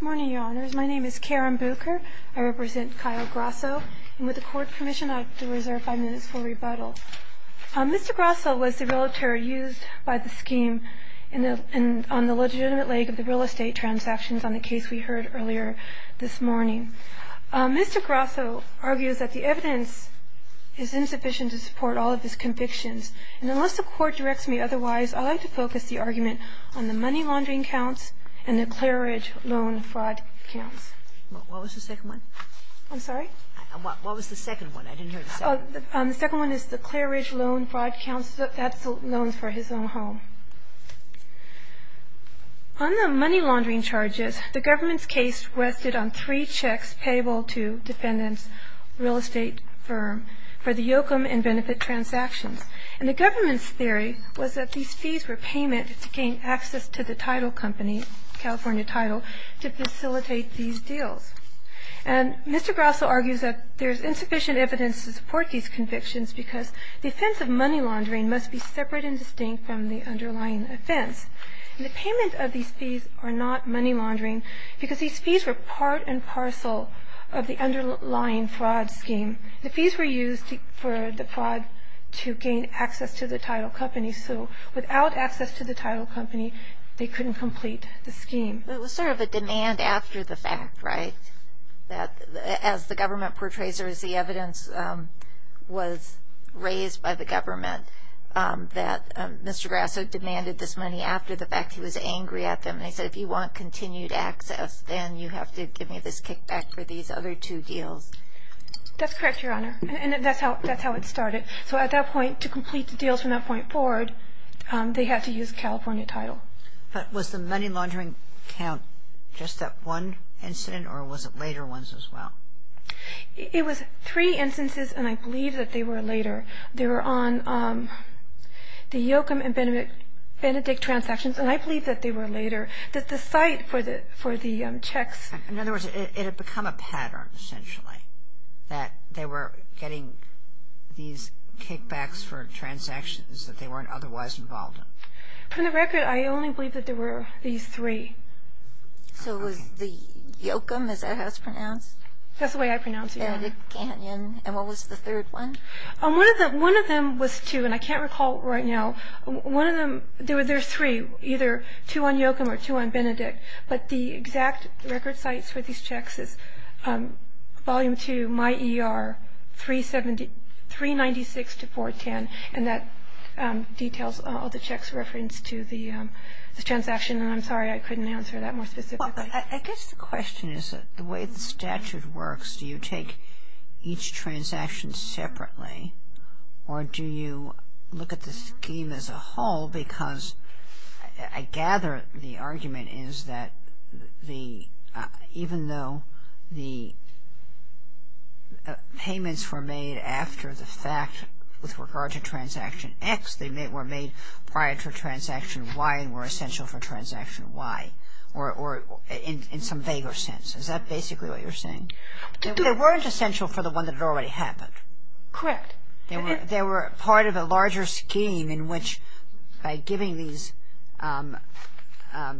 Good morning, your honors. My name is Karen Booker. I represent Kyle Grasso, and with the court permission, I have to reserve five minutes for rebuttal. Mr. Grasso was the realtor used by the scheme on the legitimate leg of the real estate transactions on the case we heard earlier this morning. Mr. Grasso argues that the evidence is insufficient to support all of his convictions, and unless the court directs me otherwise, I'd like to focus the argument on the money laundering counts and the Clearidge loan fraud counts. What was the second one? I'm sorry? What was the second one? I didn't hear the second one. The second one is the Clearidge loan fraud counts. That's the loans for his own home. On the money laundering charges, the government's case rested on three checks payable to defendants, real estate firm, for the yokem and benefit transactions. And the government's theory was that these fees were payment to gain access to the title company, California Title, to facilitate these deals. And Mr. Grasso argues that there's insufficient evidence to support these convictions because the offense of money laundering must be separate and distinct from the underlying offense. And the payment of these fees are not money laundering because these fees were part and parcel of the underlying fraud scheme. The fees were used for the fraud to gain access to the title company, so without access to the title company, they couldn't complete the scheme. It was sort of a demand after the fact, right? As the government portrays it, as the evidence was raised by the government, that Mr. Grasso demanded this money after the fact. He was angry at them, and he said, if you want continued access, then you have to give me this kickback for these other two deals. That's correct, Your Honor, and that's how it started. So at that point, to complete the deals from that point forward, they had to use California Title. But was the money laundering count just that one incident, or was it later ones as well? It was three instances, and I believe that they were later. They were on the yokem and benedict transactions, and I believe that they were later. The site for the checks. In other words, it had become a pattern, essentially, that they were getting these kickbacks for transactions that they weren't otherwise involved in. From the record, I only believe that there were these three. So was the yokem, as that was pronounced? That's the way I pronounce it, Your Honor. And the canyon, and what was the third one? One of them was two, and I can't recall right now. One of them, there were three, either two on yokem or two on benedict. But the exact record sites for these checks is Volume 2, My ER, 396-410, and that details all the checks referenced to the transaction. And I'm sorry I couldn't answer that more specifically. I guess the question is, the way the statute works, do you take each transaction separately, or do you look at the scheme as a whole? Because I gather the argument is that even though the payments were made after the fact with regard to transaction X, they were made prior to transaction Y and were essential for transaction Y, or in some vaguer sense. Is that basically what you're saying? They weren't essential for the one that had already happened. Correct. They were part of a larger scheme in which, by giving these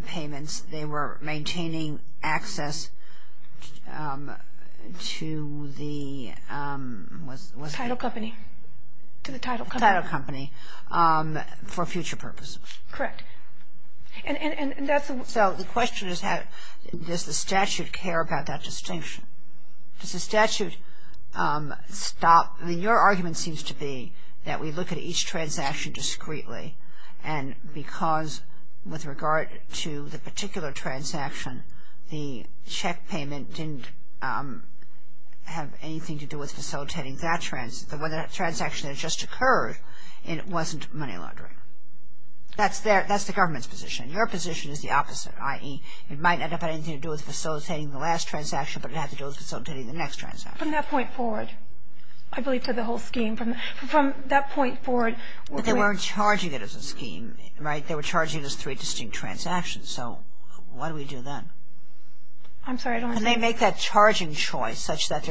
payments, they were maintaining access to the title company for future purposes. Correct. So the question is, does the statute care about that distinction? Does the statute stop? I mean, your argument seems to be that we look at each transaction discreetly, and because with regard to the particular transaction, the check payment didn't have anything to do with facilitating that transaction. The transaction had just occurred, and it wasn't money laundering. That's the government's position. Your position is the opposite, i.e., it might not have had anything to do with facilitating the last transaction, but it had to do with facilitating the next transaction. From that point forward, I believe, to the whole scheme, from that point forward. But they weren't charging it as a scheme, right? They were charging it as three distinct transactions. So what do we do then? I'm sorry, I don't understand. Can they make that charging choice such that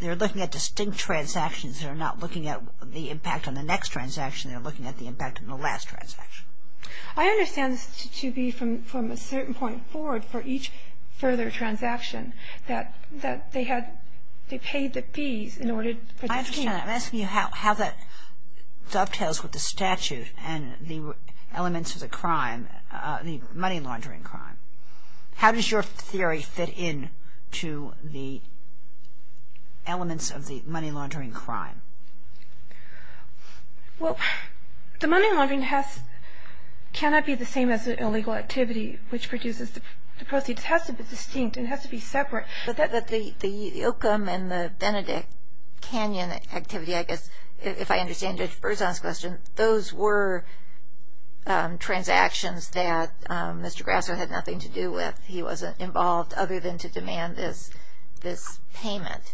they're looking at distinct transactions that are not looking at the impact on the next transaction, they're looking at the impact on the last transaction? I understand this to be from a certain point forward for each further transaction, that they paid the fees in order for the scheme. I understand that. I'm asking you how that dovetails with the statute and the elements of the crime, the money laundering crime. How does your theory fit in to the elements of the money laundering crime? Well, the money laundering cannot be the same as an illegal activity, which produces the proceeds. It has to be distinct. It has to be separate. The Ilkum and the Benedict Canyon activity, I guess, if I understand Judge Berzon's question, those were transactions that Mr. Grasso had nothing to do with. He wasn't involved other than to demand this payment.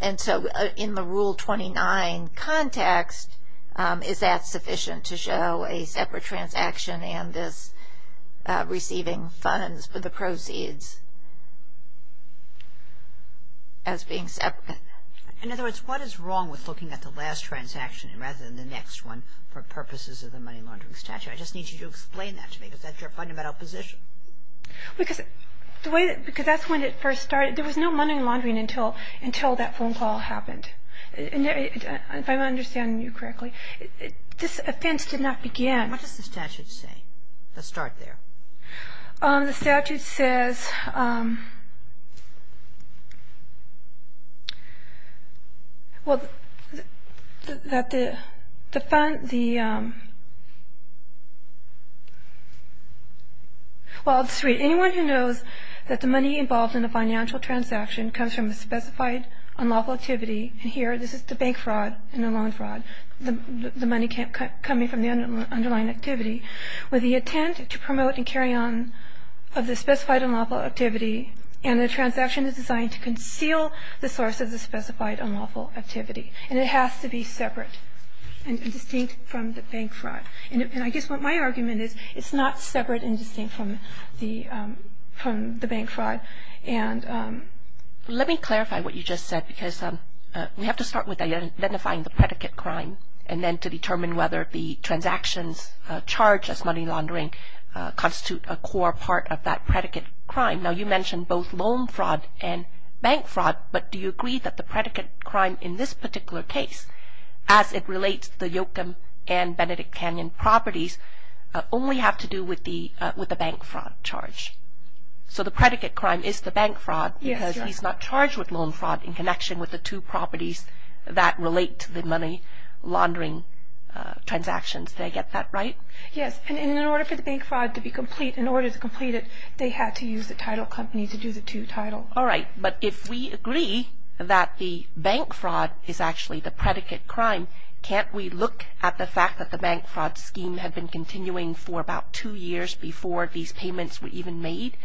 And so in the Rule 29 context, is that sufficient to show a separate transaction and this receiving funds for the proceeds as being separate? In other words, what is wrong with looking at the last transaction rather than the next one for purposes of the money laundering statute? I just need you to explain that to me because that's your fundamental position. Because that's when it first started. There was no money laundering until that phone call happened. If I'm understanding you correctly, this offense did not begin. What does the statute say? Let's start there. The statute says, well, that the fund, the, well, I'll just read. Anyone who knows that the money involved in a financial transaction comes from a specified unlawful activity, and here this is the bank fraud and the loan fraud, the money coming from the underlying activity, with the intent to promote and carry on of the specified unlawful activity, and the transaction is designed to conceal the source of the specified unlawful activity. And it has to be separate and distinct from the bank fraud. And I guess what my argument is, it's not separate and distinct from the bank fraud. And let me clarify what you just said because we have to start with identifying the predicate crime and then to determine whether the transactions charged as money laundering constitute a core part of that predicate crime. Now, you mentioned both loan fraud and bank fraud, but do you agree that the predicate crime in this particular case, as it relates to the Yoakam and Benedict Canyon properties, only have to do with the bank fraud charge? So the predicate crime is the bank fraud because he's not charged with loan fraud in connection with the two properties that relate to the money laundering transactions. Did I get that right? Yes, and in order for the bank fraud to be complete, in order to complete it, they had to use the title company to do the two title. All right, but if we agree that the bank fraud is actually the predicate crime, can't we look at the fact that the bank fraud scheme had been continuing for about two years before these payments were even made?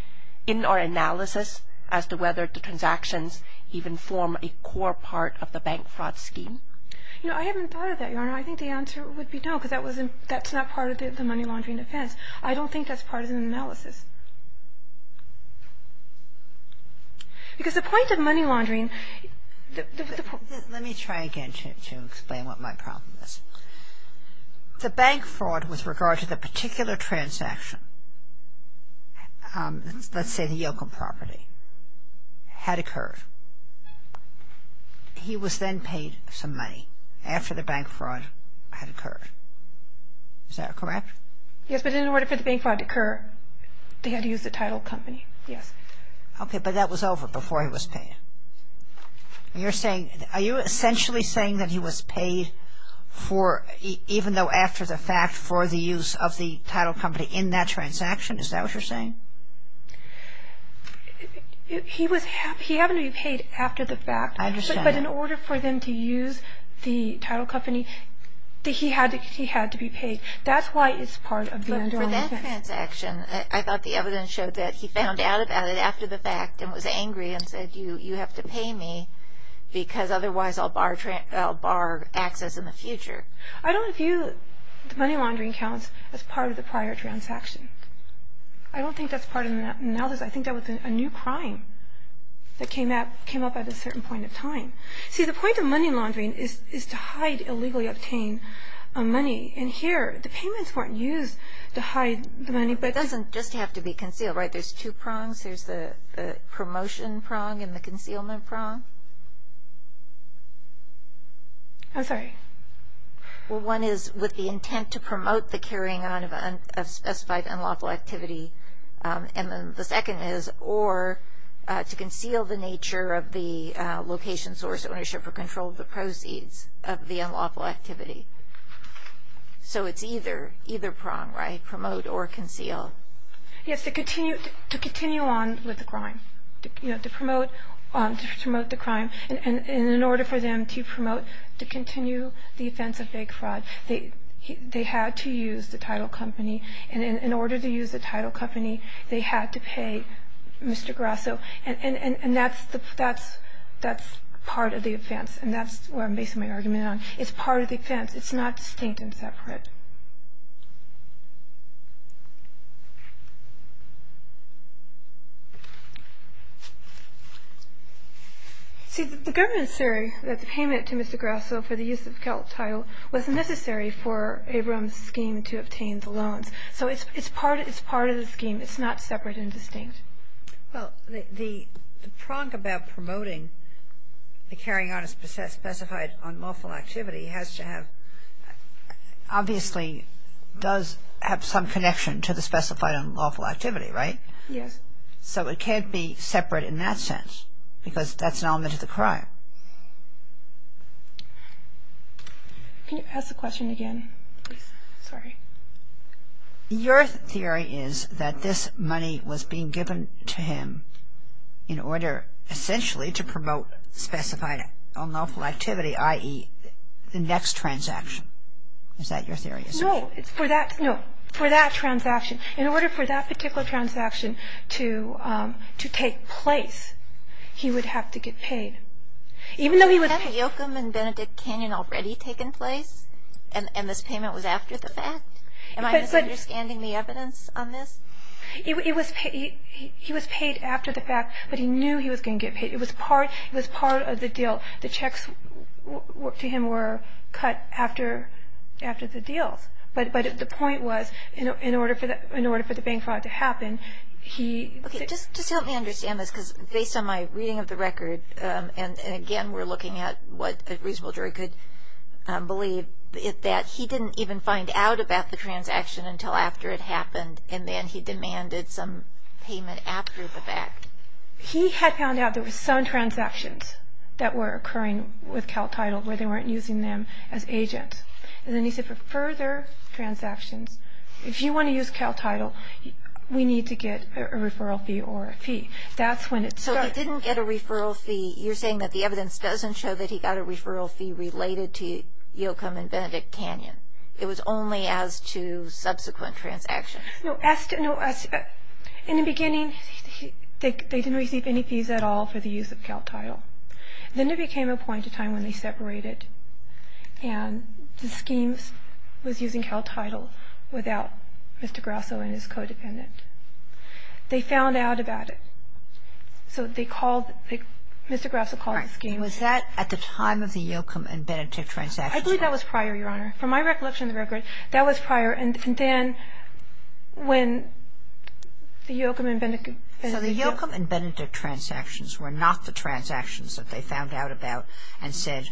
In our analysis as to whether the transactions even form a core part of the bank fraud scheme? You know, I haven't thought of that, Your Honor. I think the answer would be no, because that's not part of the money laundering defense. I don't think that's part of the analysis. Because the point of money laundering... Let me try again to explain what my problem is. The bank fraud with regard to the particular transaction, let's say the Yoakum property, had occurred. He was then paid some money after the bank fraud had occurred. Is that correct? Yes, but in order for the bank fraud to occur, they had to use the title company. Yes. Okay, but that was over before he was paid. And you're saying, are you essentially saying that he was paid for, even though after the fact, for the use of the title company in that transaction? Is that what you're saying? He was, he happened to be paid after the fact. I understand that. But in order for them to use the title company, he had to be paid. That's why it's part of the underlying defense. For that transaction, I thought the evidence showed that he found out about it after the fact and was angry and said, you have to pay me because otherwise I'll bar access in the future. I don't view the money laundering accounts as part of the prior transaction. I don't think that's part of analysis. I think that was a new crime that came up at a certain point in time. See, the point of money laundering is to hide illegally obtained money. And here, the payments weren't used to hide the money. But it doesn't just have to be concealed, right? There's two prongs. There's the promotion prong and the concealment prong. I'm sorry. Well, one is with the intent to promote the carrying on of a specified unlawful activity. And then the second is or to conceal the nature of the location source, ownership or control of the proceeds of the unlawful activity. So it's either prong, right? Promote or conceal. Yes, to continue on with the crime, to promote the crime. And in order for them to promote, to continue the offense of fake fraud, they had to use the title company. And in order to use the title company, they had to pay Mr. Grasso. And that's part of the offense. And that's where I'm basing my argument on. It's not distinct and separate. See, the government is saying that the payment to Mr. Grasso for the use of the Celt title was necessary for Abrams' scheme to obtain the loans. So it's part of the scheme. It's not separate and distinct. Well, the prong about promoting the carrying on of a specified unlawful activity has to have – obviously does have some connection to the specified unlawful activity. Specified unlawful activity, right? Yes. So it can't be separate in that sense because that's an element of the crime. Can you ask the question again, please? Sorry. Your theory is that this money was being given to him in order essentially to promote specified unlawful activity, i.e., the next transaction. Is that your theory? No. For that transaction. In order for that particular transaction to take place, he would have to get paid. Even though he was – Hadn't Yoakam and Benedict Canyon already taken place? And this payment was after the fact? Am I misunderstanding the evidence on this? He was paid after the fact, but he knew he was going to get paid. It was part of the deal. The checks to him were cut after the deals. But the point was in order for the bank fraud to happen, he – Okay. Just help me understand this because based on my reading of the record and, again, we're looking at what a reasonable jury could believe, that he didn't even find out about the transaction until after it happened and then he demanded some payment after the fact. He had found out there were some transactions that were occurring with CalTitle where they weren't using them as agents. And then he said for further transactions, if you want to use CalTitle, we need to get a referral fee or a fee. That's when it started. So he didn't get a referral fee. You're saying that the evidence doesn't show that he got a referral fee related to Yoakam and Benedict Canyon. It was only as to subsequent transactions. In the beginning, they didn't receive any fees at all for the use of CalTitle. Then it became a point in time when they separated and the scheme was using CalTitle without Mr. Grasso and his codependent. They found out about it. So they called – Mr. Grasso called the scheme. Was that at the time of the Yoakam and Benedict transactions? I believe that was prior, Your Honor. From my recollection of the record, that was prior. And then when the Yoakam and Benedict – So the Yoakam and Benedict transactions were not the transactions that they found out about and said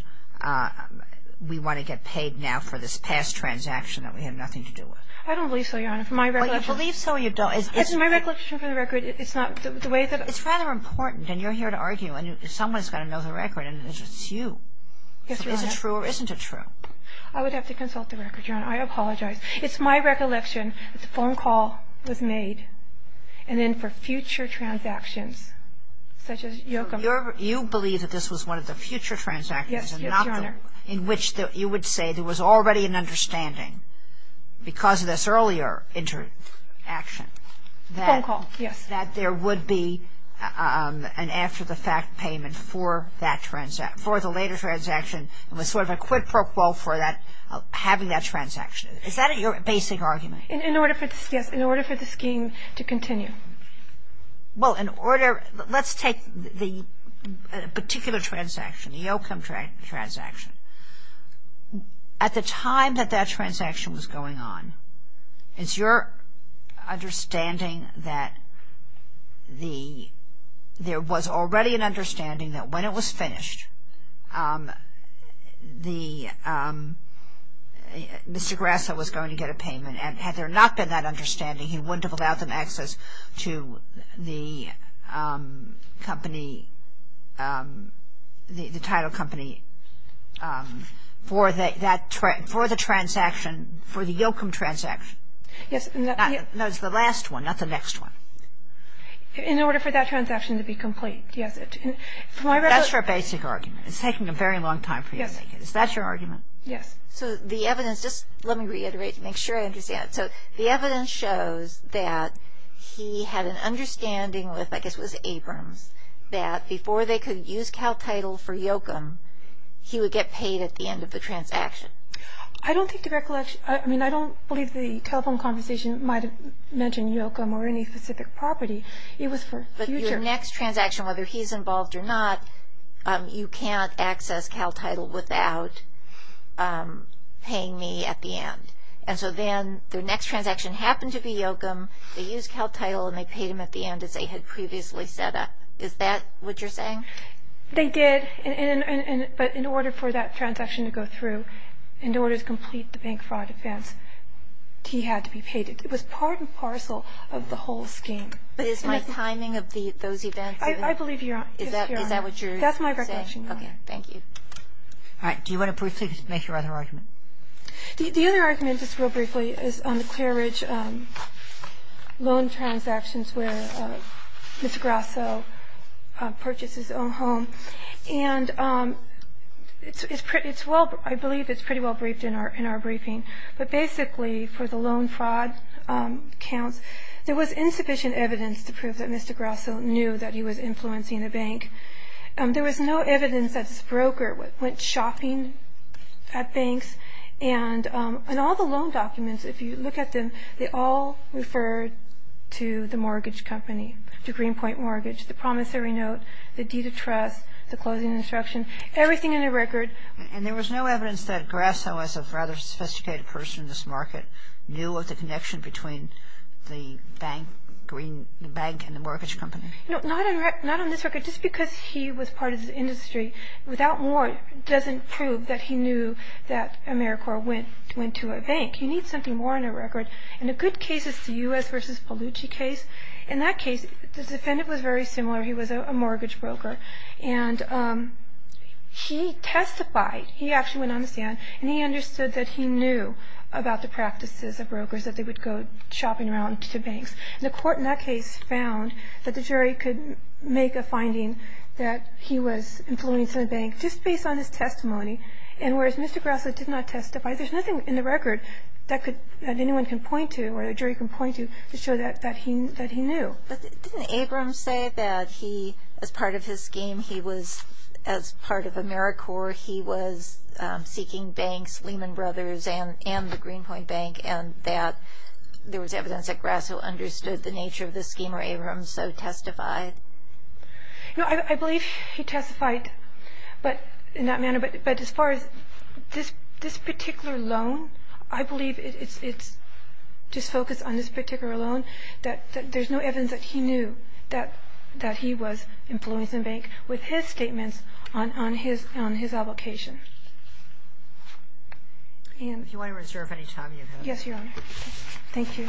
we want to get paid now for this past transaction that we have nothing to do with. I don't believe so, Your Honor. From my recollection – But you believe so or you don't. It's my recollection from the record. It's not the way that – It's rather important, and you're here to argue, and someone's got to know the record, and it's you. Is it true or isn't it true? I would have to consult the record, Your Honor. I apologize. It's my recollection that the phone call was made and then for future transactions such as Yoakam. You believe that this was one of the future transactions and not the – Yes, Your Honor. In which you would say there was already an understanding because of this earlier interaction that – Phone call, yes. That there would be an after-the-fact payment for that – for the later transaction and was sort of a quid pro quo for that – having that transaction. Is that your basic argument? In order for – yes, in order for the scheme to continue. Well, in order – let's take the particular transaction, the Yoakam transaction. At the time that that transaction was going on, it's your understanding that there was already an understanding that when it was finished, Mr. Grassa was going to get a payment. And had there not been that understanding, he wouldn't have allowed them access to the company, the title company for the transaction, for the Yoakam transaction. Yes. That was the last one, not the next one. In order for that transaction to be complete, yes. That's your basic argument. It's taking a very long time for you to make it. Is that your argument? Yes. So the evidence – just let me reiterate to make sure I understand. So the evidence shows that he had an understanding with, I guess it was Abrams, that before they could use CalTitle for Yoakam, he would get paid at the end of the transaction. I don't think the recollection – I mean, I don't believe the telephone conversation might have mentioned Yoakam or any specific property. It was for future – But your next transaction, whether he's involved or not, you can't access CalTitle without paying me at the end. And so then the next transaction happened to be Yoakam. They used CalTitle, and they paid him at the end as they had previously set up. Is that what you're saying? They did, but in order for that transaction to go through, in order to complete the bank fraud advance, he had to be paid. It was part and parcel of the whole scheme. But is my timing of those events – I believe you are. Is that what you're saying? That's my recollection, yes. Okay. Thank you. All right. Do you want to briefly make your other argument? The other argument, just real briefly, is on the Clear Ridge loan transactions where Mr. Grasso purchased his own home. And it's pretty – it's well – I believe it's pretty well briefed in our briefing. But basically, for the loan fraud counts, there was insufficient evidence to prove that Mr. Grasso knew that he was influencing the bank. There was no evidence that this broker went shopping at banks. And all the loan documents, if you look at them, they all refer to the mortgage company, to Greenpoint Mortgage, the promissory note, the deed of trust, the closing instruction, everything in the record. And there was no evidence that Grasso, as a rather sophisticated person in this market, knew of the connection between the bank, the bank and the mortgage company? No, not on this record. Just because he was part of the industry, without more, doesn't prove that he knew that AmeriCorps went to a bank. You need something more in a record. And a good case is the U.S. v. Pellucci case. In that case, the defendant was very similar. He was a mortgage broker. And he testified – he actually went on the stand – and he understood that he knew about the practices of brokers, that they would go shopping around to banks. And the court in that case found that the jury could make a finding that he was influence in a bank just based on his testimony. And whereas Mr. Grasso did not testify, there's nothing in the record that anyone can point to or the jury can point to to show that he knew. But didn't Abrams say that he, as part of his scheme, he was, as part of AmeriCorps, he was seeking banks, Lehman Brothers and the Greenpoint Bank, and that there was evidence that Grasso understood the nature of the scheme, or Abrams so testified? No, I believe he testified in that manner. But as far as this particular loan, I believe it's just focused on this particular loan, that there's no evidence that he knew that he was influence in a bank with his statements on his application. If you want to reserve any time you have. Yes, Your Honor. Thank you.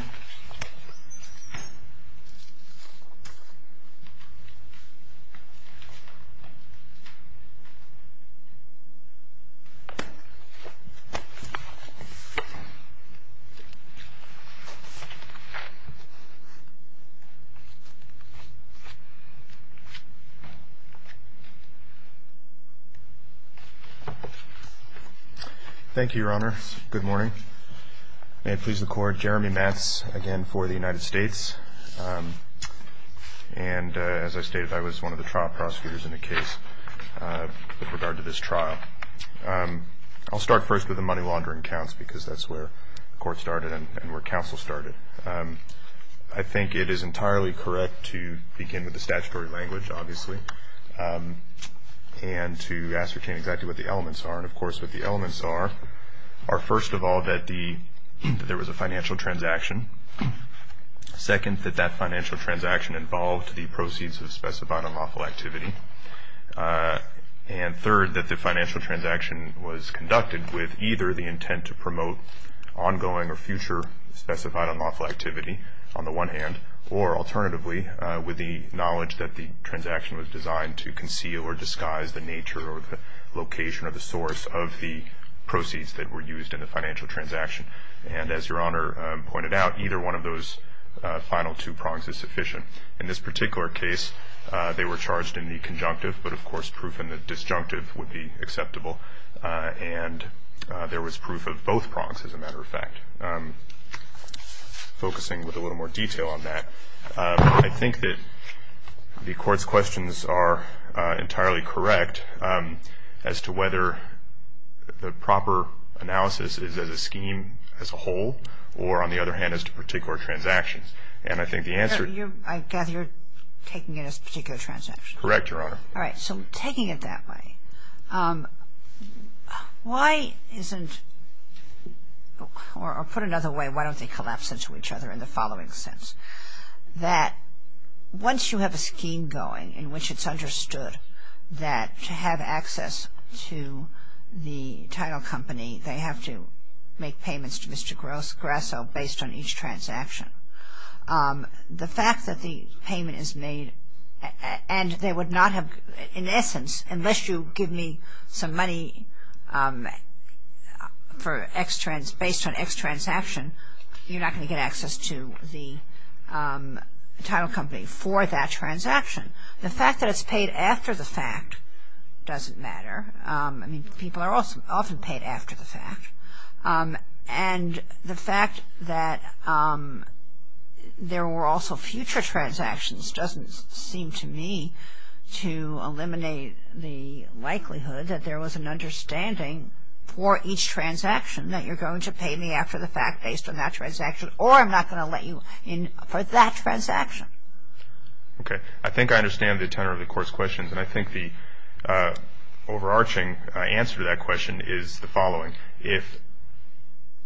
Thank you, Your Honor. Good morning. May it please the Court. Jeremy Matz, again, for the United States. And as I stated, I was one of the trial prosecutors in the case with regard to this trial. I'll start first with the money laundering counts, because that's where the court started and where counsel started. I think it is entirely correct to begin with the statutory language, obviously, and to ascertain exactly what the elements are. And, of course, what the elements are are, first of all, that there was a financial transaction, second, that that financial transaction involved the proceeds of specified unlawful activity, and third, that the financial transaction was conducted with either the intent to promote ongoing or future specified unlawful activity, on the one hand, or, alternatively, with the knowledge that the transaction was designed to conceal or disguise the nature or the location or the source of the proceeds that were used in the financial transaction. And as Your Honor pointed out, either one of those final two prongs is sufficient. In this particular case, they were charged in the conjunctive, but, of course, proof in the disjunctive would be acceptable. And there was proof of both prongs, as a matter of fact. Focusing with a little more detail on that, I think that the Court's questions are entirely correct as to whether the proper analysis is as a scheme, as a whole, or, on the other hand, as to particular transactions. And I think the answer to your question... I gather you're taking it as particular transactions. Correct, Your Honor. All right. So taking it that way, why isn't, or put another way, why don't they collapse into each other in the following sense? That once you have a scheme going in which it's understood that to have access to the title company, they have to make payments to Mr. Grasso based on each transaction. The fact that the payment is made, and they would not have, in essence, unless you give me some money based on X transaction, you're not going to get access to the title company for that transaction. The fact that it's paid after the fact doesn't matter. I mean, people are often paid after the fact. And the fact that there were also future transactions doesn't seem to me to eliminate the likelihood that there was an understanding for each transaction, that you're going to pay me after the fact based on that transaction, or I'm not going to let you in for that transaction. Okay. I think I understand the tenor of the Court's questions, and I think the overarching answer to that question is the following. If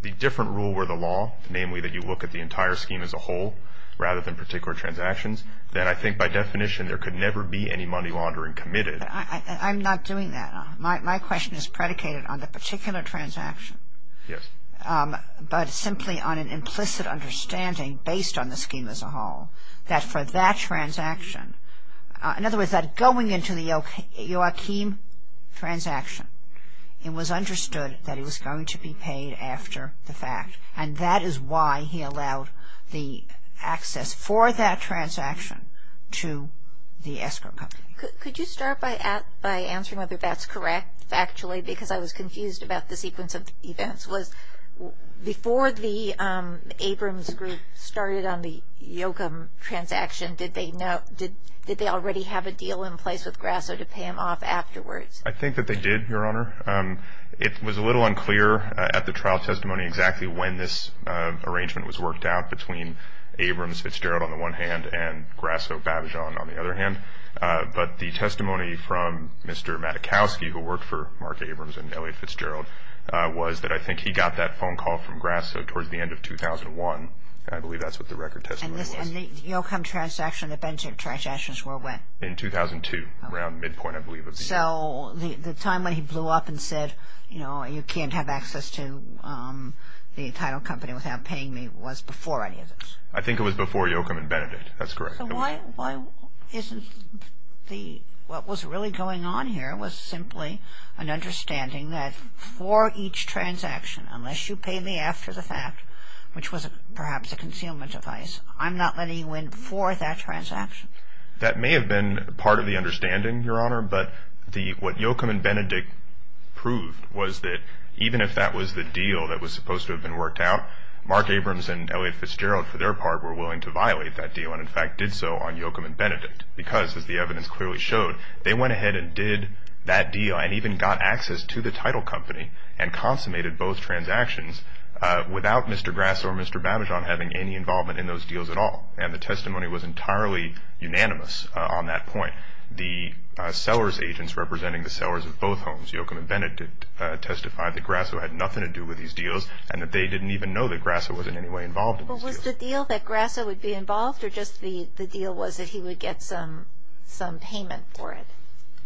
the different rule were the law, namely that you look at the entire scheme as a whole, rather than particular transactions, then I think by definition there could never be any money laundering committed. I'm not doing that. My question is predicated on the particular transaction. Yes. But simply on an implicit understanding based on the scheme as a whole, that for that transaction, in other words, that going into the Joachim transaction, it was understood that it was going to be paid after the fact. And that is why he allowed the access for that transaction to the escrow company. Could you start by answering whether that's correct factually, because I was confused about the sequence of events. Before the Abrams group started on the Joachim transaction, did they already have a deal in place with Grasso to pay him off afterwards? I think that they did, Your Honor. It was a little unclear at the trial testimony exactly when this arrangement was worked out between Abrams-Fitzgerald on the one hand and Grasso-Babijan on the other hand. But the testimony from Mr. Matykowski, who worked for Mark Abrams and Elliot Fitzgerald, was that I think he got that phone call from Grasso towards the end of 2001, and I believe that's what the record testimony was. And the Joachim transaction, the Benchik transactions were when? In 2002, around midpoint, I believe. So the time when he blew up and said, you know, you can't have access to the entire company without paying me was before any of this? I think it was before Joachim and Benedict. That's correct. So why isn't the, what was really going on here was simply an understanding that for each transaction, unless you pay me after the fact, which was perhaps a concealment device, I'm not letting you in for that transaction? That may have been part of the understanding, Your Honor, but what Joachim and Benedict proved was that even if that was the deal that was supposed to have been worked out, Mark Abrams and Elliot Fitzgerald, for their part, were willing to violate that deal and in fact did so on Joachim and Benedict because, as the evidence clearly showed, they went ahead and did that deal and even got access to the title company and consummated both transactions without Mr. Grasso or Mr. Babijan having any involvement in those deals at all. And the testimony was entirely unanimous on that point. The sellers' agents representing the sellers of both homes, Joachim and Benedict, testified that Grasso had nothing to do with these deals and that they didn't even know that Grasso was in any way involved in these deals. But was the deal that Grasso would be involved or just the deal was that he would get some payment for it,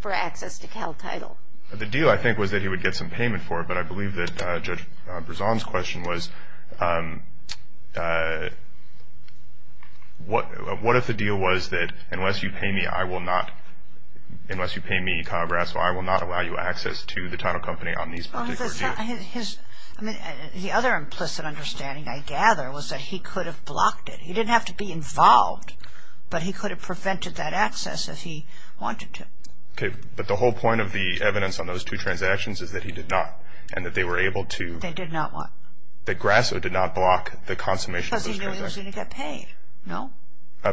for access to Cal Title? The deal, I think, was that he would get some payment for it, but I believe that Judge Brisson's question was, what if the deal was that unless you pay me, I will not, unless you pay me, Kyle Grasso, I will not allow you access to the title company on these particular deals? The other implicit understanding, I gather, was that he could have blocked it. He didn't have to be involved, but he could have prevented that access if he wanted to. Okay, but the whole point of the evidence on those two transactions is that he did not and that they were able to – They did not what? That Grasso did not block the consummation of those transactions. Because he knew he was going to get paid, no?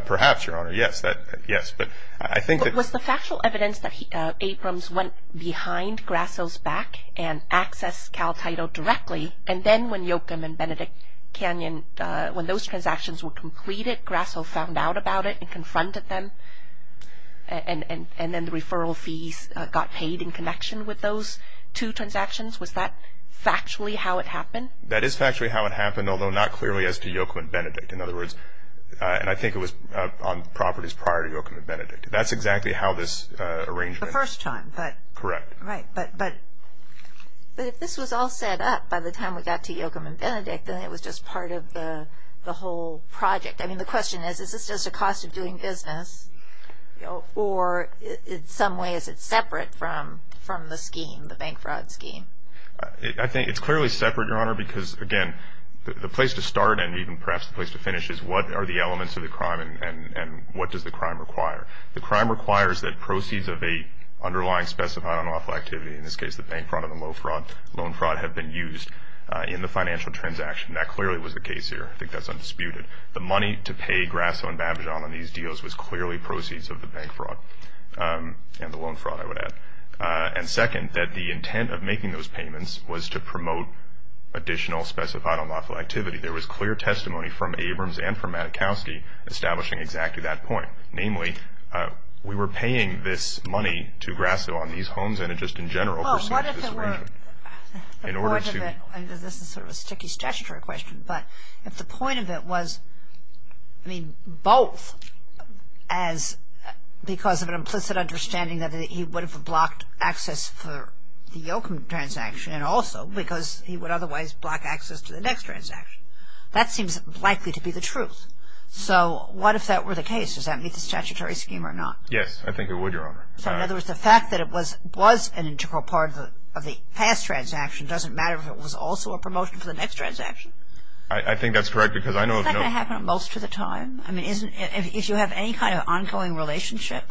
Perhaps, Your Honor, yes. But I think that – Was the factual evidence that Abrams went behind Grasso's back and accessed Cal Title directly, and then when Joachim and Benedict Canyon, when those transactions were completed, Grasso found out about it and confronted them and then the referral fees got paid in connection with those two transactions? Was that factually how it happened? That is factually how it happened, although not clearly as to Joachim and Benedict. In other words, and I think it was on properties prior to Joachim and Benedict. That's exactly how this arrangement – The first time, but – Correct. Right, but if this was all set up by the time we got to Joachim and Benedict, then it was just part of the whole project. I mean, the question is, is this just a cost of doing business, or in some way is it separate from the scheme, the bank fraud scheme? I think it's clearly separate, Your Honor, because, again, the place to start and even perhaps the place to finish is what are the elements of the crime and what does the crime require? The crime requires that proceeds of an underlying specified unlawful activity, in this case the bank fraud and the loan fraud, have been used in the financial transaction. That clearly was the case here. I think that's undisputed. The money to pay Grasso and Babijan on these deals was clearly proceeds of the bank fraud and the loan fraud, I would add. And, second, that the intent of making those payments was to promote additional specified unlawful activity. There was clear testimony from Abrams and from Matikowsky establishing exactly that point. Namely, we were paying this money to Grasso on these homes and it just in general proceeds of this arrangement. Well, what if it were – In order to – The point of it – this is sort of a sticky statutory question, but if the point of it was, I mean, both as because of an implicit understanding that he would have blocked access for the Yoakum transaction and also because he would otherwise block access to the next transaction. That seems likely to be the truth. So, what if that were the case? Does that meet the statutory scheme or not? Yes, I think it would, Your Honor. So, in other words, the fact that it was an integral part of the past transaction doesn't matter if it was also a promotion for the next transaction? I think that's correct because I know – Isn't that going to happen most of the time? I mean, if you have any kind of ongoing relationship,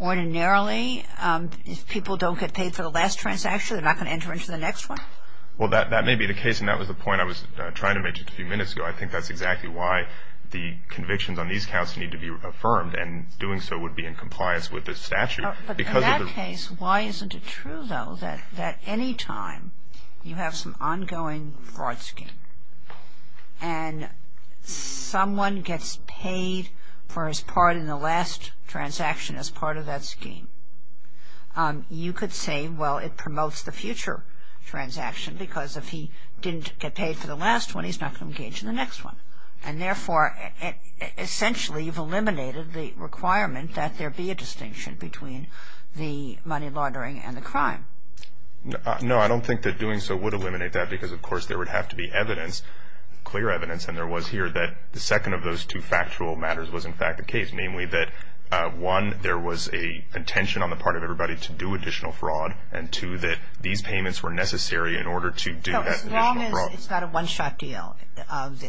ordinarily if people don't get paid for the last transaction, they're not going to enter into the next one? Well, that may be the case and that was the point I was trying to make just a few minutes ago. I think that's exactly why the convictions on these counts need to be affirmed and doing so would be in compliance with the statute. But in that case, why isn't it true, though, that any time you have some ongoing fraud scheme and someone gets paid for his part in the last transaction as part of that scheme, you could say, well, it promotes the future transaction because if he didn't get paid for the last one, he's not going to engage in the next one. And therefore, essentially you've eliminated the requirement that there be a distinction between the money laundering and the crime. No, I don't think that doing so would eliminate that because, of course, there would have to be evidence, clear evidence, and there was here that the second of those two factual matters was in fact the case, namely that, one, there was a contention on the part of everybody to do additional fraud and, two, that these payments were necessary in order to do that additional fraud. No, as long as it's not a one-shot deal, the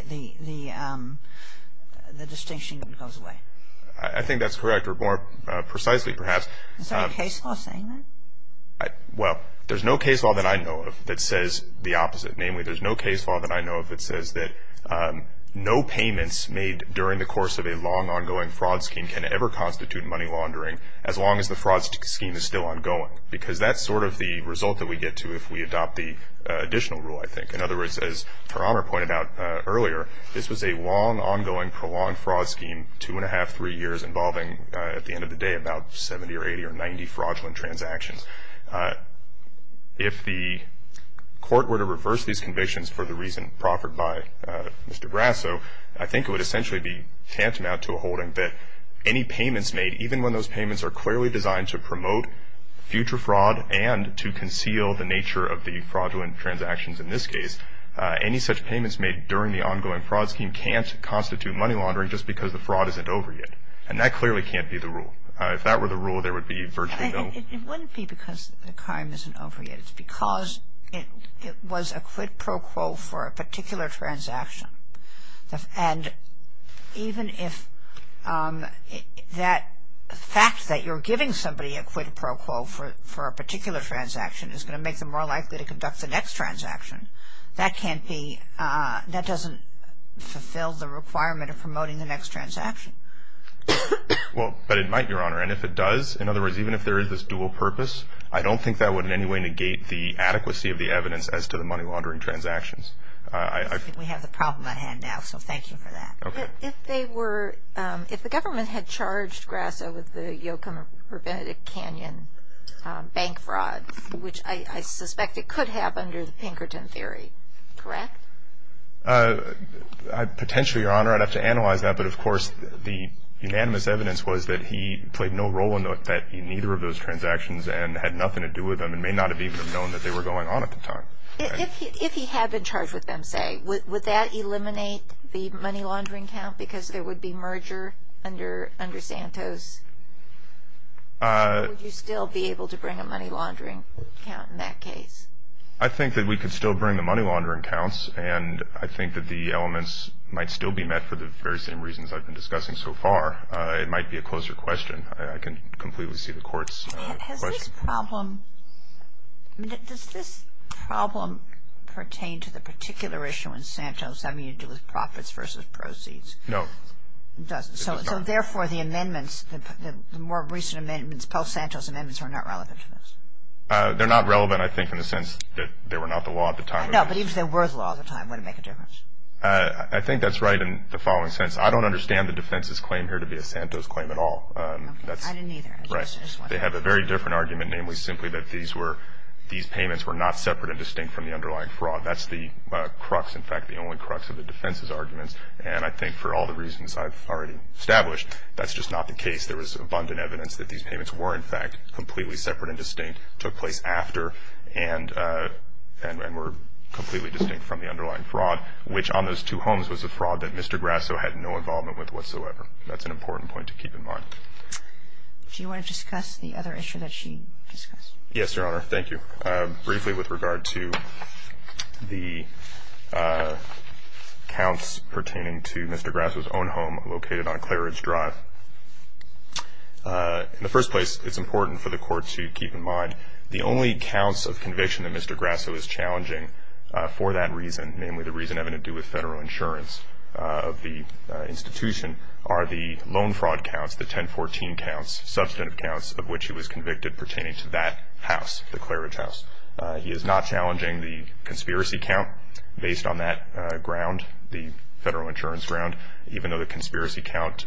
distinction goes away. I think that's correct, or more precisely, perhaps. Is there a case law saying that? Well, there's no case law that I know of that says the opposite. Namely, there's no case law that I know of that says that no payments made during the course of a long ongoing fraud scheme can ever constitute money laundering as long as the fraud scheme is still ongoing because that's sort of the result that we get to if we adopt the additional rule, I think. In other words, as Her Honor pointed out earlier, this was a long ongoing prolonged fraud scheme, two and a half, three years, involving, at the end of the day, about 70 or 80 or 90 fraudulent transactions. If the court were to reverse these convictions for the reason proffered by Mr. Brasso, I think it would essentially be tantamount to a holding that any payments made, even when those payments are clearly designed to promote future fraud and to conceal the nature of the fraudulent transactions in this case, any such payments made during the ongoing fraud scheme can't constitute money laundering just because the fraud isn't over yet. And that clearly can't be the rule. If that were the rule, there would be virtually no rule. It wouldn't be because the crime isn't over yet. It's because it was a quid pro quo for a particular transaction. And even if that fact that you're giving somebody a quid pro quo for a particular transaction is going to make them more likely to conduct the next transaction, that doesn't fulfill the requirement of promoting the next transaction. Well, but it might, Your Honor. And if it does, in other words, even if there is this dual purpose, I don't think that would in any way negate the adequacy of the evidence as to the money laundering transactions. We have the problem at hand now, so thank you for that. If they were ‑‑ if the government had charged Grasso with the Yokum or Benedict Canyon bank fraud, which I suspect it could have under the Pinkerton theory, correct? Potentially, Your Honor. I'd have to analyze that. But, of course, the unanimous evidence was that he played no role in either of those transactions and had nothing to do with them and may not have even known that they were going on at the time. If he had been charged with them, say, would that eliminate the money laundering count because there would be merger under Santos? Would you still be able to bring a money laundering count in that case? I think that we could still bring the money laundering counts, and I think that the elements might still be met for the very same reasons I've been discussing so far. It might be a closer question. I can completely see the court's question. Has this problem ‑‑ does this problem pertain to the particular issue in Santos having to do with profits versus proceeds? No. It doesn't. So, therefore, the amendments, the more recent amendments, post-Santos amendments, are not relevant to this? They're not relevant, I think, in the sense that they were not the law at the time. No, but even if they were the law at the time, would it make a difference? I think that's right in the following sense. I don't understand the defense's claim here to be a Santos claim at all. I didn't either. Right. They have a very different argument, namely simply that these were ‑‑ these payments were not separate and distinct from the underlying fraud. That's the crux, in fact, the only crux of the defense's arguments, and I think for all the reasons I've already established, that's just not the case. There was abundant evidence that these payments were, in fact, completely separate and distinct, took place after, and were completely distinct from the underlying fraud, which on those two homes was a fraud that Mr. Grasso had no involvement with whatsoever. That's an important point to keep in mind. Do you want to discuss the other issue that she discussed? Yes, Your Honor. Thank you. Briefly with regard to the counts pertaining to Mr. Grasso's own home located on Clare Ridge Drive. In the first place, it's important for the court to keep in mind the only counts of conviction that Mr. Grasso is challenging for that reason, namely the reason having to do with federal insurance of the institution, are the loan fraud counts, the 1014 counts, substantive counts, of which he was convicted pertaining to that house, the Clare Ridge house. He is not challenging the conspiracy count based on that ground, the federal insurance ground, even though the conspiracy count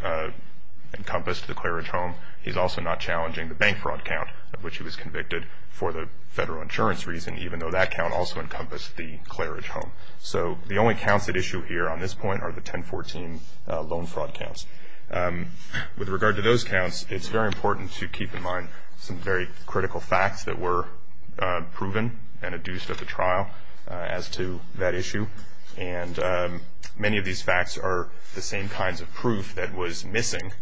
encompassed the Clare Ridge home. He's also not challenging the bank fraud count of which he was convicted for the federal insurance reason, even though that count also encompassed the Clare Ridge home. So the only counts at issue here on this point are the 1014 loan fraud counts. With regard to those counts, it's very important to keep in mind some very critical facts that were proven and adduced at the trial as to that issue. And many of these facts are the same kinds of proof that was missing,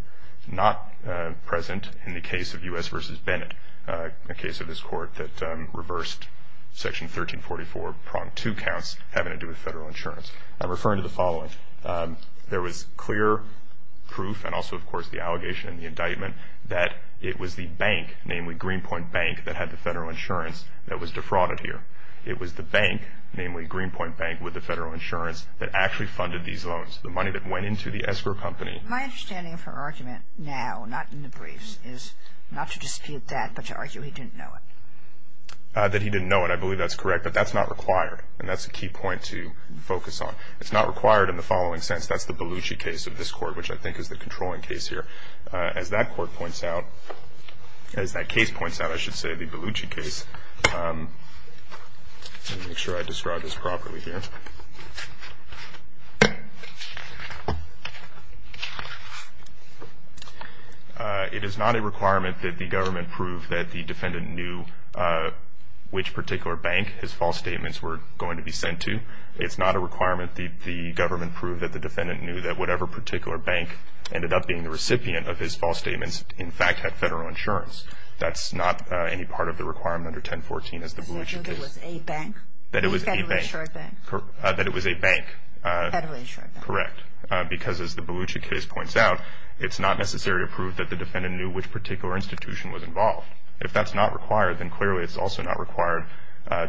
not present in the case of U.S. v. Bennett, a case of this court that reversed Section 1344, pronged two counts having to do with federal insurance. I'm referring to the following. There was clear proof and also, of course, the allegation and the indictment that it was the bank, namely Greenpoint Bank, that had the federal insurance that was defrauded here. It was the bank, namely Greenpoint Bank with the federal insurance, that actually funded these loans, the money that went into the escrow company. My understanding of her argument now, not in the briefs, is not to dispute that, but to argue he didn't know it. That he didn't know it, I believe that's correct, but that's not required, and that's a key point to focus on. It's not required in the following sense. That's the Belucci case of this court, which I think is the controlling case here. As that court points out, as that case points out, I should say the Belucci case. Let me make sure I describe this properly here. It is not a requirement that the government prove that the defendant knew which particular bank his false statements were going to be sent to. It's not a requirement that the government prove that the defendant knew that whatever particular bank ended up being the recipient of his false statements in fact had federal insurance. That's not any part of the requirement under 1014 as the Belucci case. That it was a bank. That it was a bank. A federal insured bank. Correct. Because as the Belucci case points out, it's not necessary to prove that the defendant knew which particular institution was involved. If that's not required, then clearly it's also not required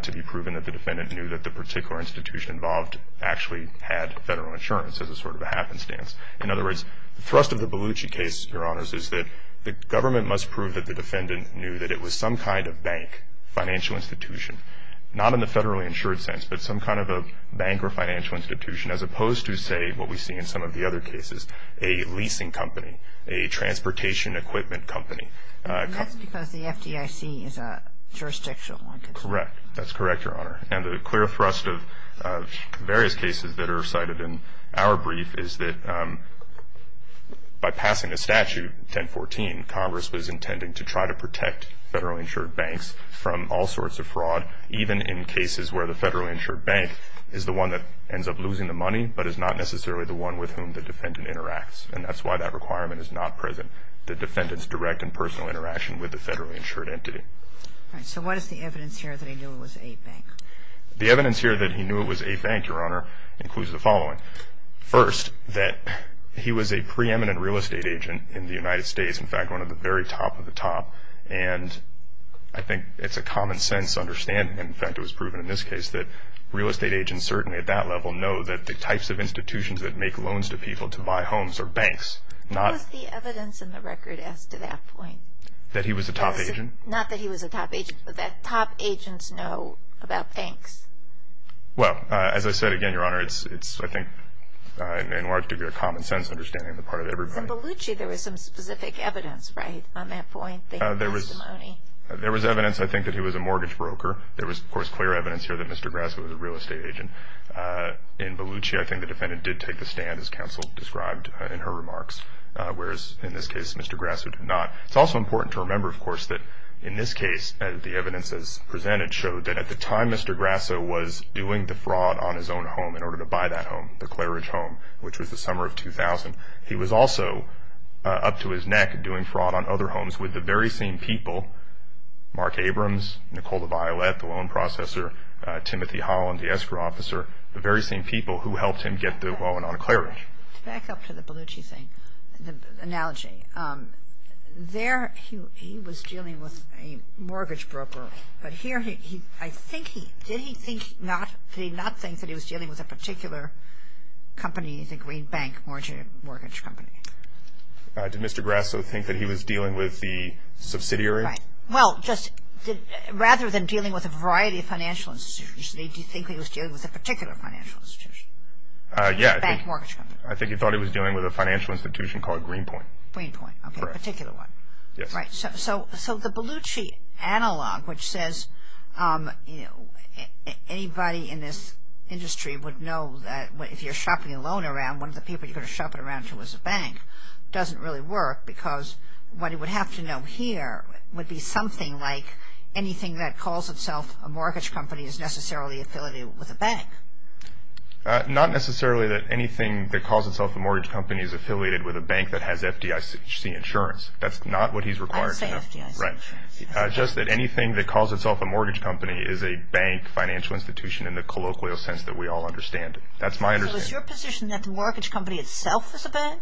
to be proven that the defendant knew that the particular institution involved actually had federal insurance as a sort of a happenstance. In other words, the thrust of the Belucci case, Your Honors, is that the government must prove that the defendant knew that it was some kind of bank, financial institution, not in the federally insured sense, but some kind of a bank or financial institution as opposed to, say, what we see in some of the other cases, a leasing company, a transportation equipment company. And that's because the FDIC is a jurisdictional one. Correct. That's correct, Your Honor. And the clear thrust of various cases that are cited in our brief is that by passing a statute, 1014, Congress was intending to try to protect federally insured banks from all sorts of fraud, even in cases where the federally insured bank is the one that ends up losing the money but is not necessarily the one with whom the defendant interacts. And that's why that requirement is not present, the defendant's direct and personal interaction with the federally insured entity. All right. So what is the evidence here that he knew it was a bank? The evidence here that he knew it was a bank, Your Honor, includes the following. First, that he was a preeminent real estate agent in the United States, in fact, one of the very top of the top. And I think it's a common sense understanding, in fact, it was proven in this case, that real estate agents certainly at that level know that the types of institutions that make loans to people to buy homes are banks. What was the evidence in the record as to that point? That he was a top agent? Not that he was a top agent, but that top agents know about banks. Well, as I said again, Your Honor, it's, I think, in large degree a common sense understanding on the part of everybody. In Bellucci, there was some specific evidence, right, on that point, the testimony? There was evidence, I think, that he was a mortgage broker. There was, of course, clear evidence here that Mr. Grasso was a real estate agent. In Bellucci, I think the defendant did take the stand, as counsel described in her remarks, whereas in this case, Mr. Grasso did not. It's also important to remember, of course, that in this case, the evidence as presented showed that at the time Mr. Grasso was doing the fraud on his own home in order to buy that home, the Claridge home, which was the summer of 2000, he was also up to his neck doing fraud on other homes with the very same people, Mark Abrams, Nicole LaViolette, the loan processor, Timothy Holland, the escrow officer, the very same people who helped him get the loan on Claridge. To back up to the Bellucci thing, the analogy, there he was dealing with a mortgage broker, but here I think he, did he think, did he not think that he was dealing with a particular company, the Green Bank Mortgage Company? Did Mr. Grasso think that he was dealing with the subsidiary? Right. Well, just rather than dealing with a variety of financial institutions, did he think he was dealing with a particular financial institution? Yeah. The Bank Mortgage Company. I think he thought he was dealing with a financial institution called Greenpoint. Greenpoint. Correct. Okay, a particular one. Yes. Right. So the Bellucci analog, which says anybody in this industry would know that if you're shopping a loan around, one of the people you're going to shop it around to is a bank, doesn't really work, because what he would have to know here would be something like anything that calls itself a mortgage company is necessarily affiliated with a bank. Not necessarily that anything that calls itself a mortgage company is affiliated with a bank that has FDIC insurance. That's not what he's required to know. I say FDIC insurance. Right. Just that anything that calls itself a mortgage company is a bank financial institution in the colloquial sense that we all understand it. That's my understanding. So is your position that the mortgage company itself is a bank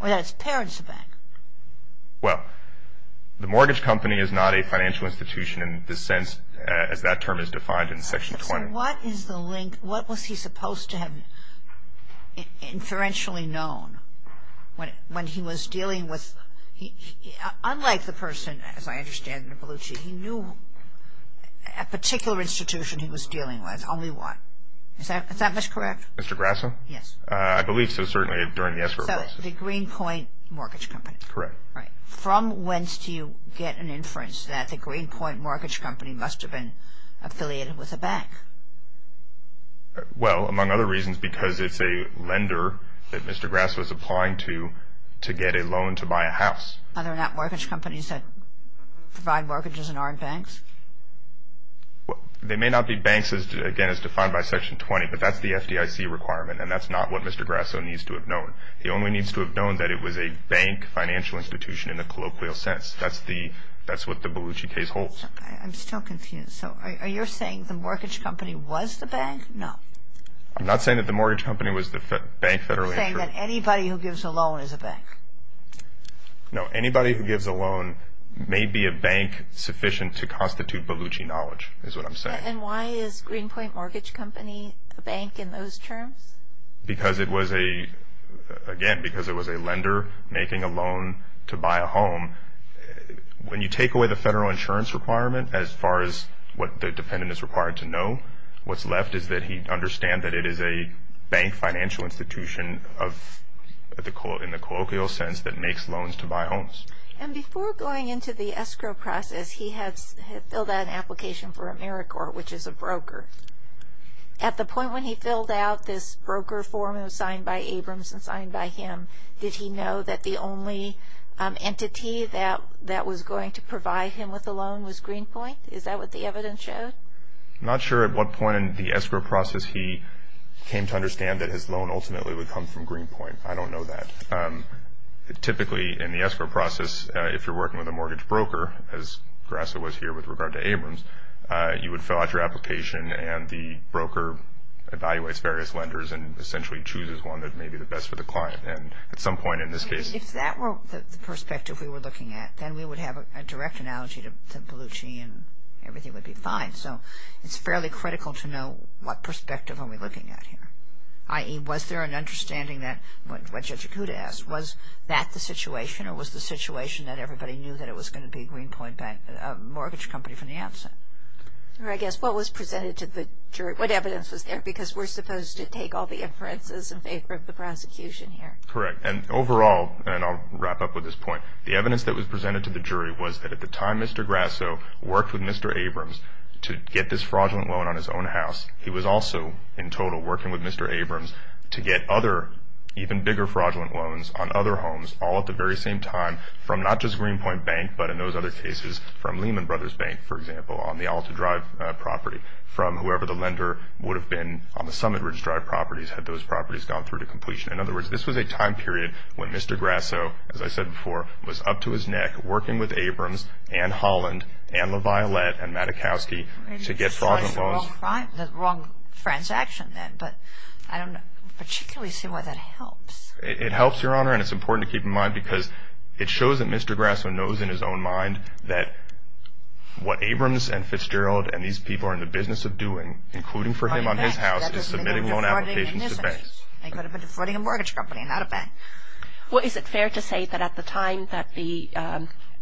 or that its parents are bank? Well, the mortgage company is not a financial institution in the sense as that term is defined in Section 20. What is the link? What was he supposed to have inferentially known when he was dealing with, unlike the person, as I understand it, the Bellucci, he knew a particular institution he was dealing with, only one. Is that correct? Mr. Grasso? Yes. I believe so, certainly, during the escrow process. So the Greenpoint Mortgage Company. Correct. Right. From whence do you get an inference that the Greenpoint Mortgage Company must have been affiliated with a bank? Well, among other reasons, because it's a lender that Mr. Grasso is applying to to get a loan to buy a house. Are there not mortgage companies that provide mortgages and aren't banks? They may not be banks, again, as defined by Section 20, but that's the FDIC requirement, and that's not what Mr. Grasso needs to have known. He only needs to have known that it was a bank financial institution in the colloquial sense. That's what the Bellucci case holds. I'm still confused. So are you saying the mortgage company was the bank? No. I'm not saying that the mortgage company was the bank federally insured. You're saying that anybody who gives a loan is a bank. No. Anybody who gives a loan may be a bank sufficient to constitute Bellucci knowledge, is what I'm saying. And why is Greenpoint Mortgage Company a bank in those terms? Because it was a, again, because it was a lender making a loan to buy a home. When you take away the federal insurance requirement, as far as what the dependent is required to know, what's left is that he understands that it is a bank financial institution in the colloquial sense that makes loans to buy homes. And before going into the escrow process, he had filled out an application for AmeriCorps, which is a broker. At the point when he filled out this broker form that was signed by Abrams and signed by him, did he know that the only entity that was going to provide him with a loan was Greenpoint? Is that what the evidence showed? I'm not sure at what point in the escrow process he came to understand that his loan ultimately would come from Greenpoint. I don't know that. Typically, in the escrow process, if you're working with a mortgage broker, as Graca was here with regard to Abrams, you would fill out your application, and the broker evaluates various lenders and essentially chooses one that may be the best for the client. And at some point in this case… If that were the perspective we were looking at, then we would have a direct analogy to Bellucci, and everything would be fine. So it's fairly critical to know what perspective are we looking at here, i.e., was there an understanding that, what Judge Acuda asked, was that the situation, or was the situation that everybody knew that it was going to be Greenpoint Mortgage Company from the outset? I guess, what was presented to the jury? What evidence was there? Because we're supposed to take all the inferences in favor of the prosecution here. Correct. And overall, and I'll wrap up with this point, the evidence that was presented to the jury was that at the time Mr. Graco worked with Mr. Abrams to get this fraudulent loan on his own house, he was also, in total, working with Mr. Abrams to get other, even bigger fraudulent loans on other homes, all at the very same time, from not just Greenpoint Bank, but in those other cases, from Lehman Brothers Bank, for example, on the Alta Drive property, from whoever the lender would have been on the Summit Ridge Drive properties, had those properties gone through to completion. In other words, this was a time period when Mr. Graco, as I said before, was up to his neck working with Abrams, and Holland, and LaViolette, and Madakowsky to get fraudulent loans. Maybe this was the wrong transaction then, but I don't particularly see why that helps. It helps, Your Honor, and it's important to keep in mind, because it shows that Mr. Graco knows in his own mind that what Abrams, and Fitzgerald, and these people are in the business of doing, including for him on his house, is submitting loan applications to banks. They could have been defrauding a mortgage company, not a bank. Well, is it fair to say that at the time that the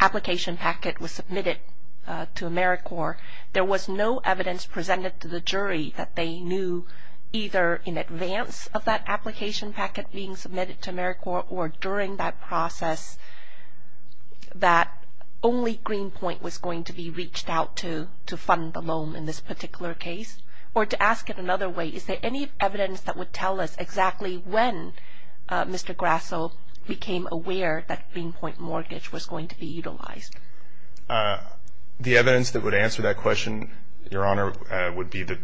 application packet was submitted to AmeriCorps, there was no evidence presented to the jury that they knew, either in advance of that application packet being submitted to AmeriCorps, or during that process, that only Greenpoint was going to be reached out to fund the loan in this particular case? Or to ask it another way, is there any evidence that would tell us exactly when Mr. Graco became aware that Greenpoint mortgage was going to be utilized? The evidence that would answer that question, Your Honor, would be the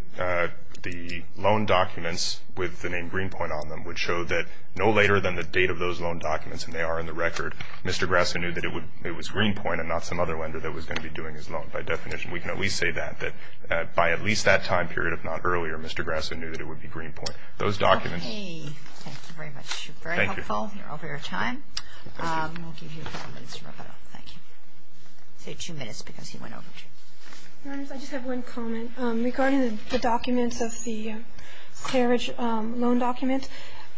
loan documents with the name Greenpoint on them, which show that no later than the date of those loan documents, and they are in the record, Mr. Graco knew that it was Greenpoint and not some other lender that was going to be doing his loan. By definition, we can at least say that, that by at least that time period, if not earlier, Mr. Graco knew that it would be Greenpoint. Okay, thank you very much. You're very helpful. Thank you. You're over your time. We'll give you a couple minutes to wrap it up. Thank you. I say two minutes because he went over. Your Honor, I just have one comment. Regarding the documents of the carriage loan documents,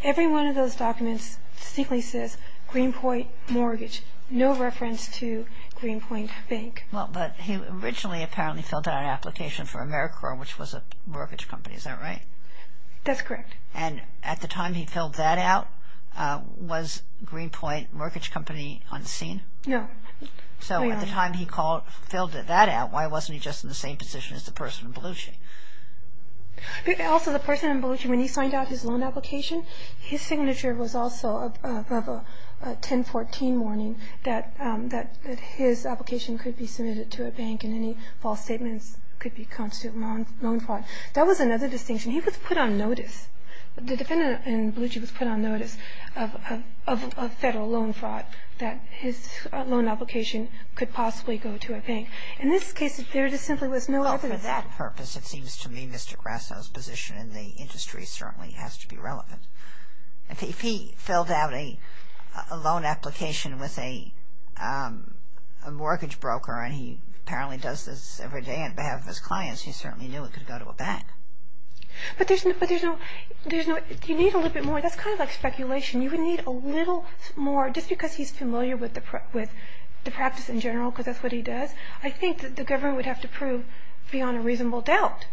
every one of those documents distinctly says Greenpoint Mortgage, no reference to Greenpoint Bank. Well, but he originally apparently filled out an application for AmeriCorps, which was a mortgage company. Is that right? That's correct. And at the time he filled that out, was Greenpoint Mortgage Company unseen? No. So at the time he filled that out, why wasn't he just in the same position as the person in Belushi? Also, the person in Belushi, when he signed out his loan application, his signature was also of a 1014 warning that his application could be submitted to a bank and any false statements could be constituted loan fraud. That was another distinction. He was put on notice, the defendant in Belushi was put on notice of federal loan fraud that his loan application could possibly go to a bank. In this case, there just simply was no evidence. Well, for that purpose, it seems to me Mr. Grasso's position in the industry certainly has to be relevant. If he filled out a loan application with a mortgage broker and he apparently does this every day on behalf of his clients, he certainly knew it could go to a bank. But there's no, you need a little bit more. That's kind of like speculation. You would need a little more just because he's familiar with the practice in general because that's what he does. I think that the government would have to prove beyond a reasonable doubt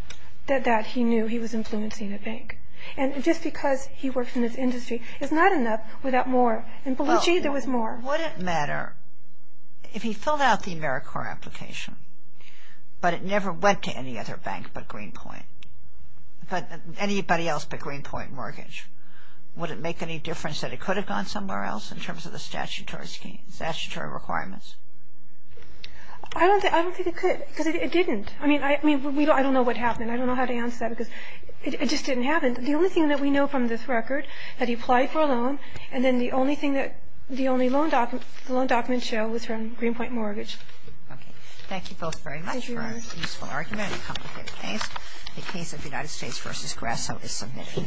that he knew he was influencing the bank. And just because he works in this industry is not enough without more. In Belushi, there was more. But would it matter if he filled out the AmeriCorps application but it never went to any other bank but Greenpoint, anybody else but Greenpoint Mortgage, would it make any difference that it could have gone somewhere else in terms of the statutory requirements? I don't think it could because it didn't. I mean, I don't know what happened. I don't know how to answer that because it just didn't happen. The only thing that we know from this record that he applied for a loan and then the only loan document show was from Greenpoint Mortgage. Okay. Thank you both very much for a useful argument and complicated things. The case of United States v. Grasso is submitted.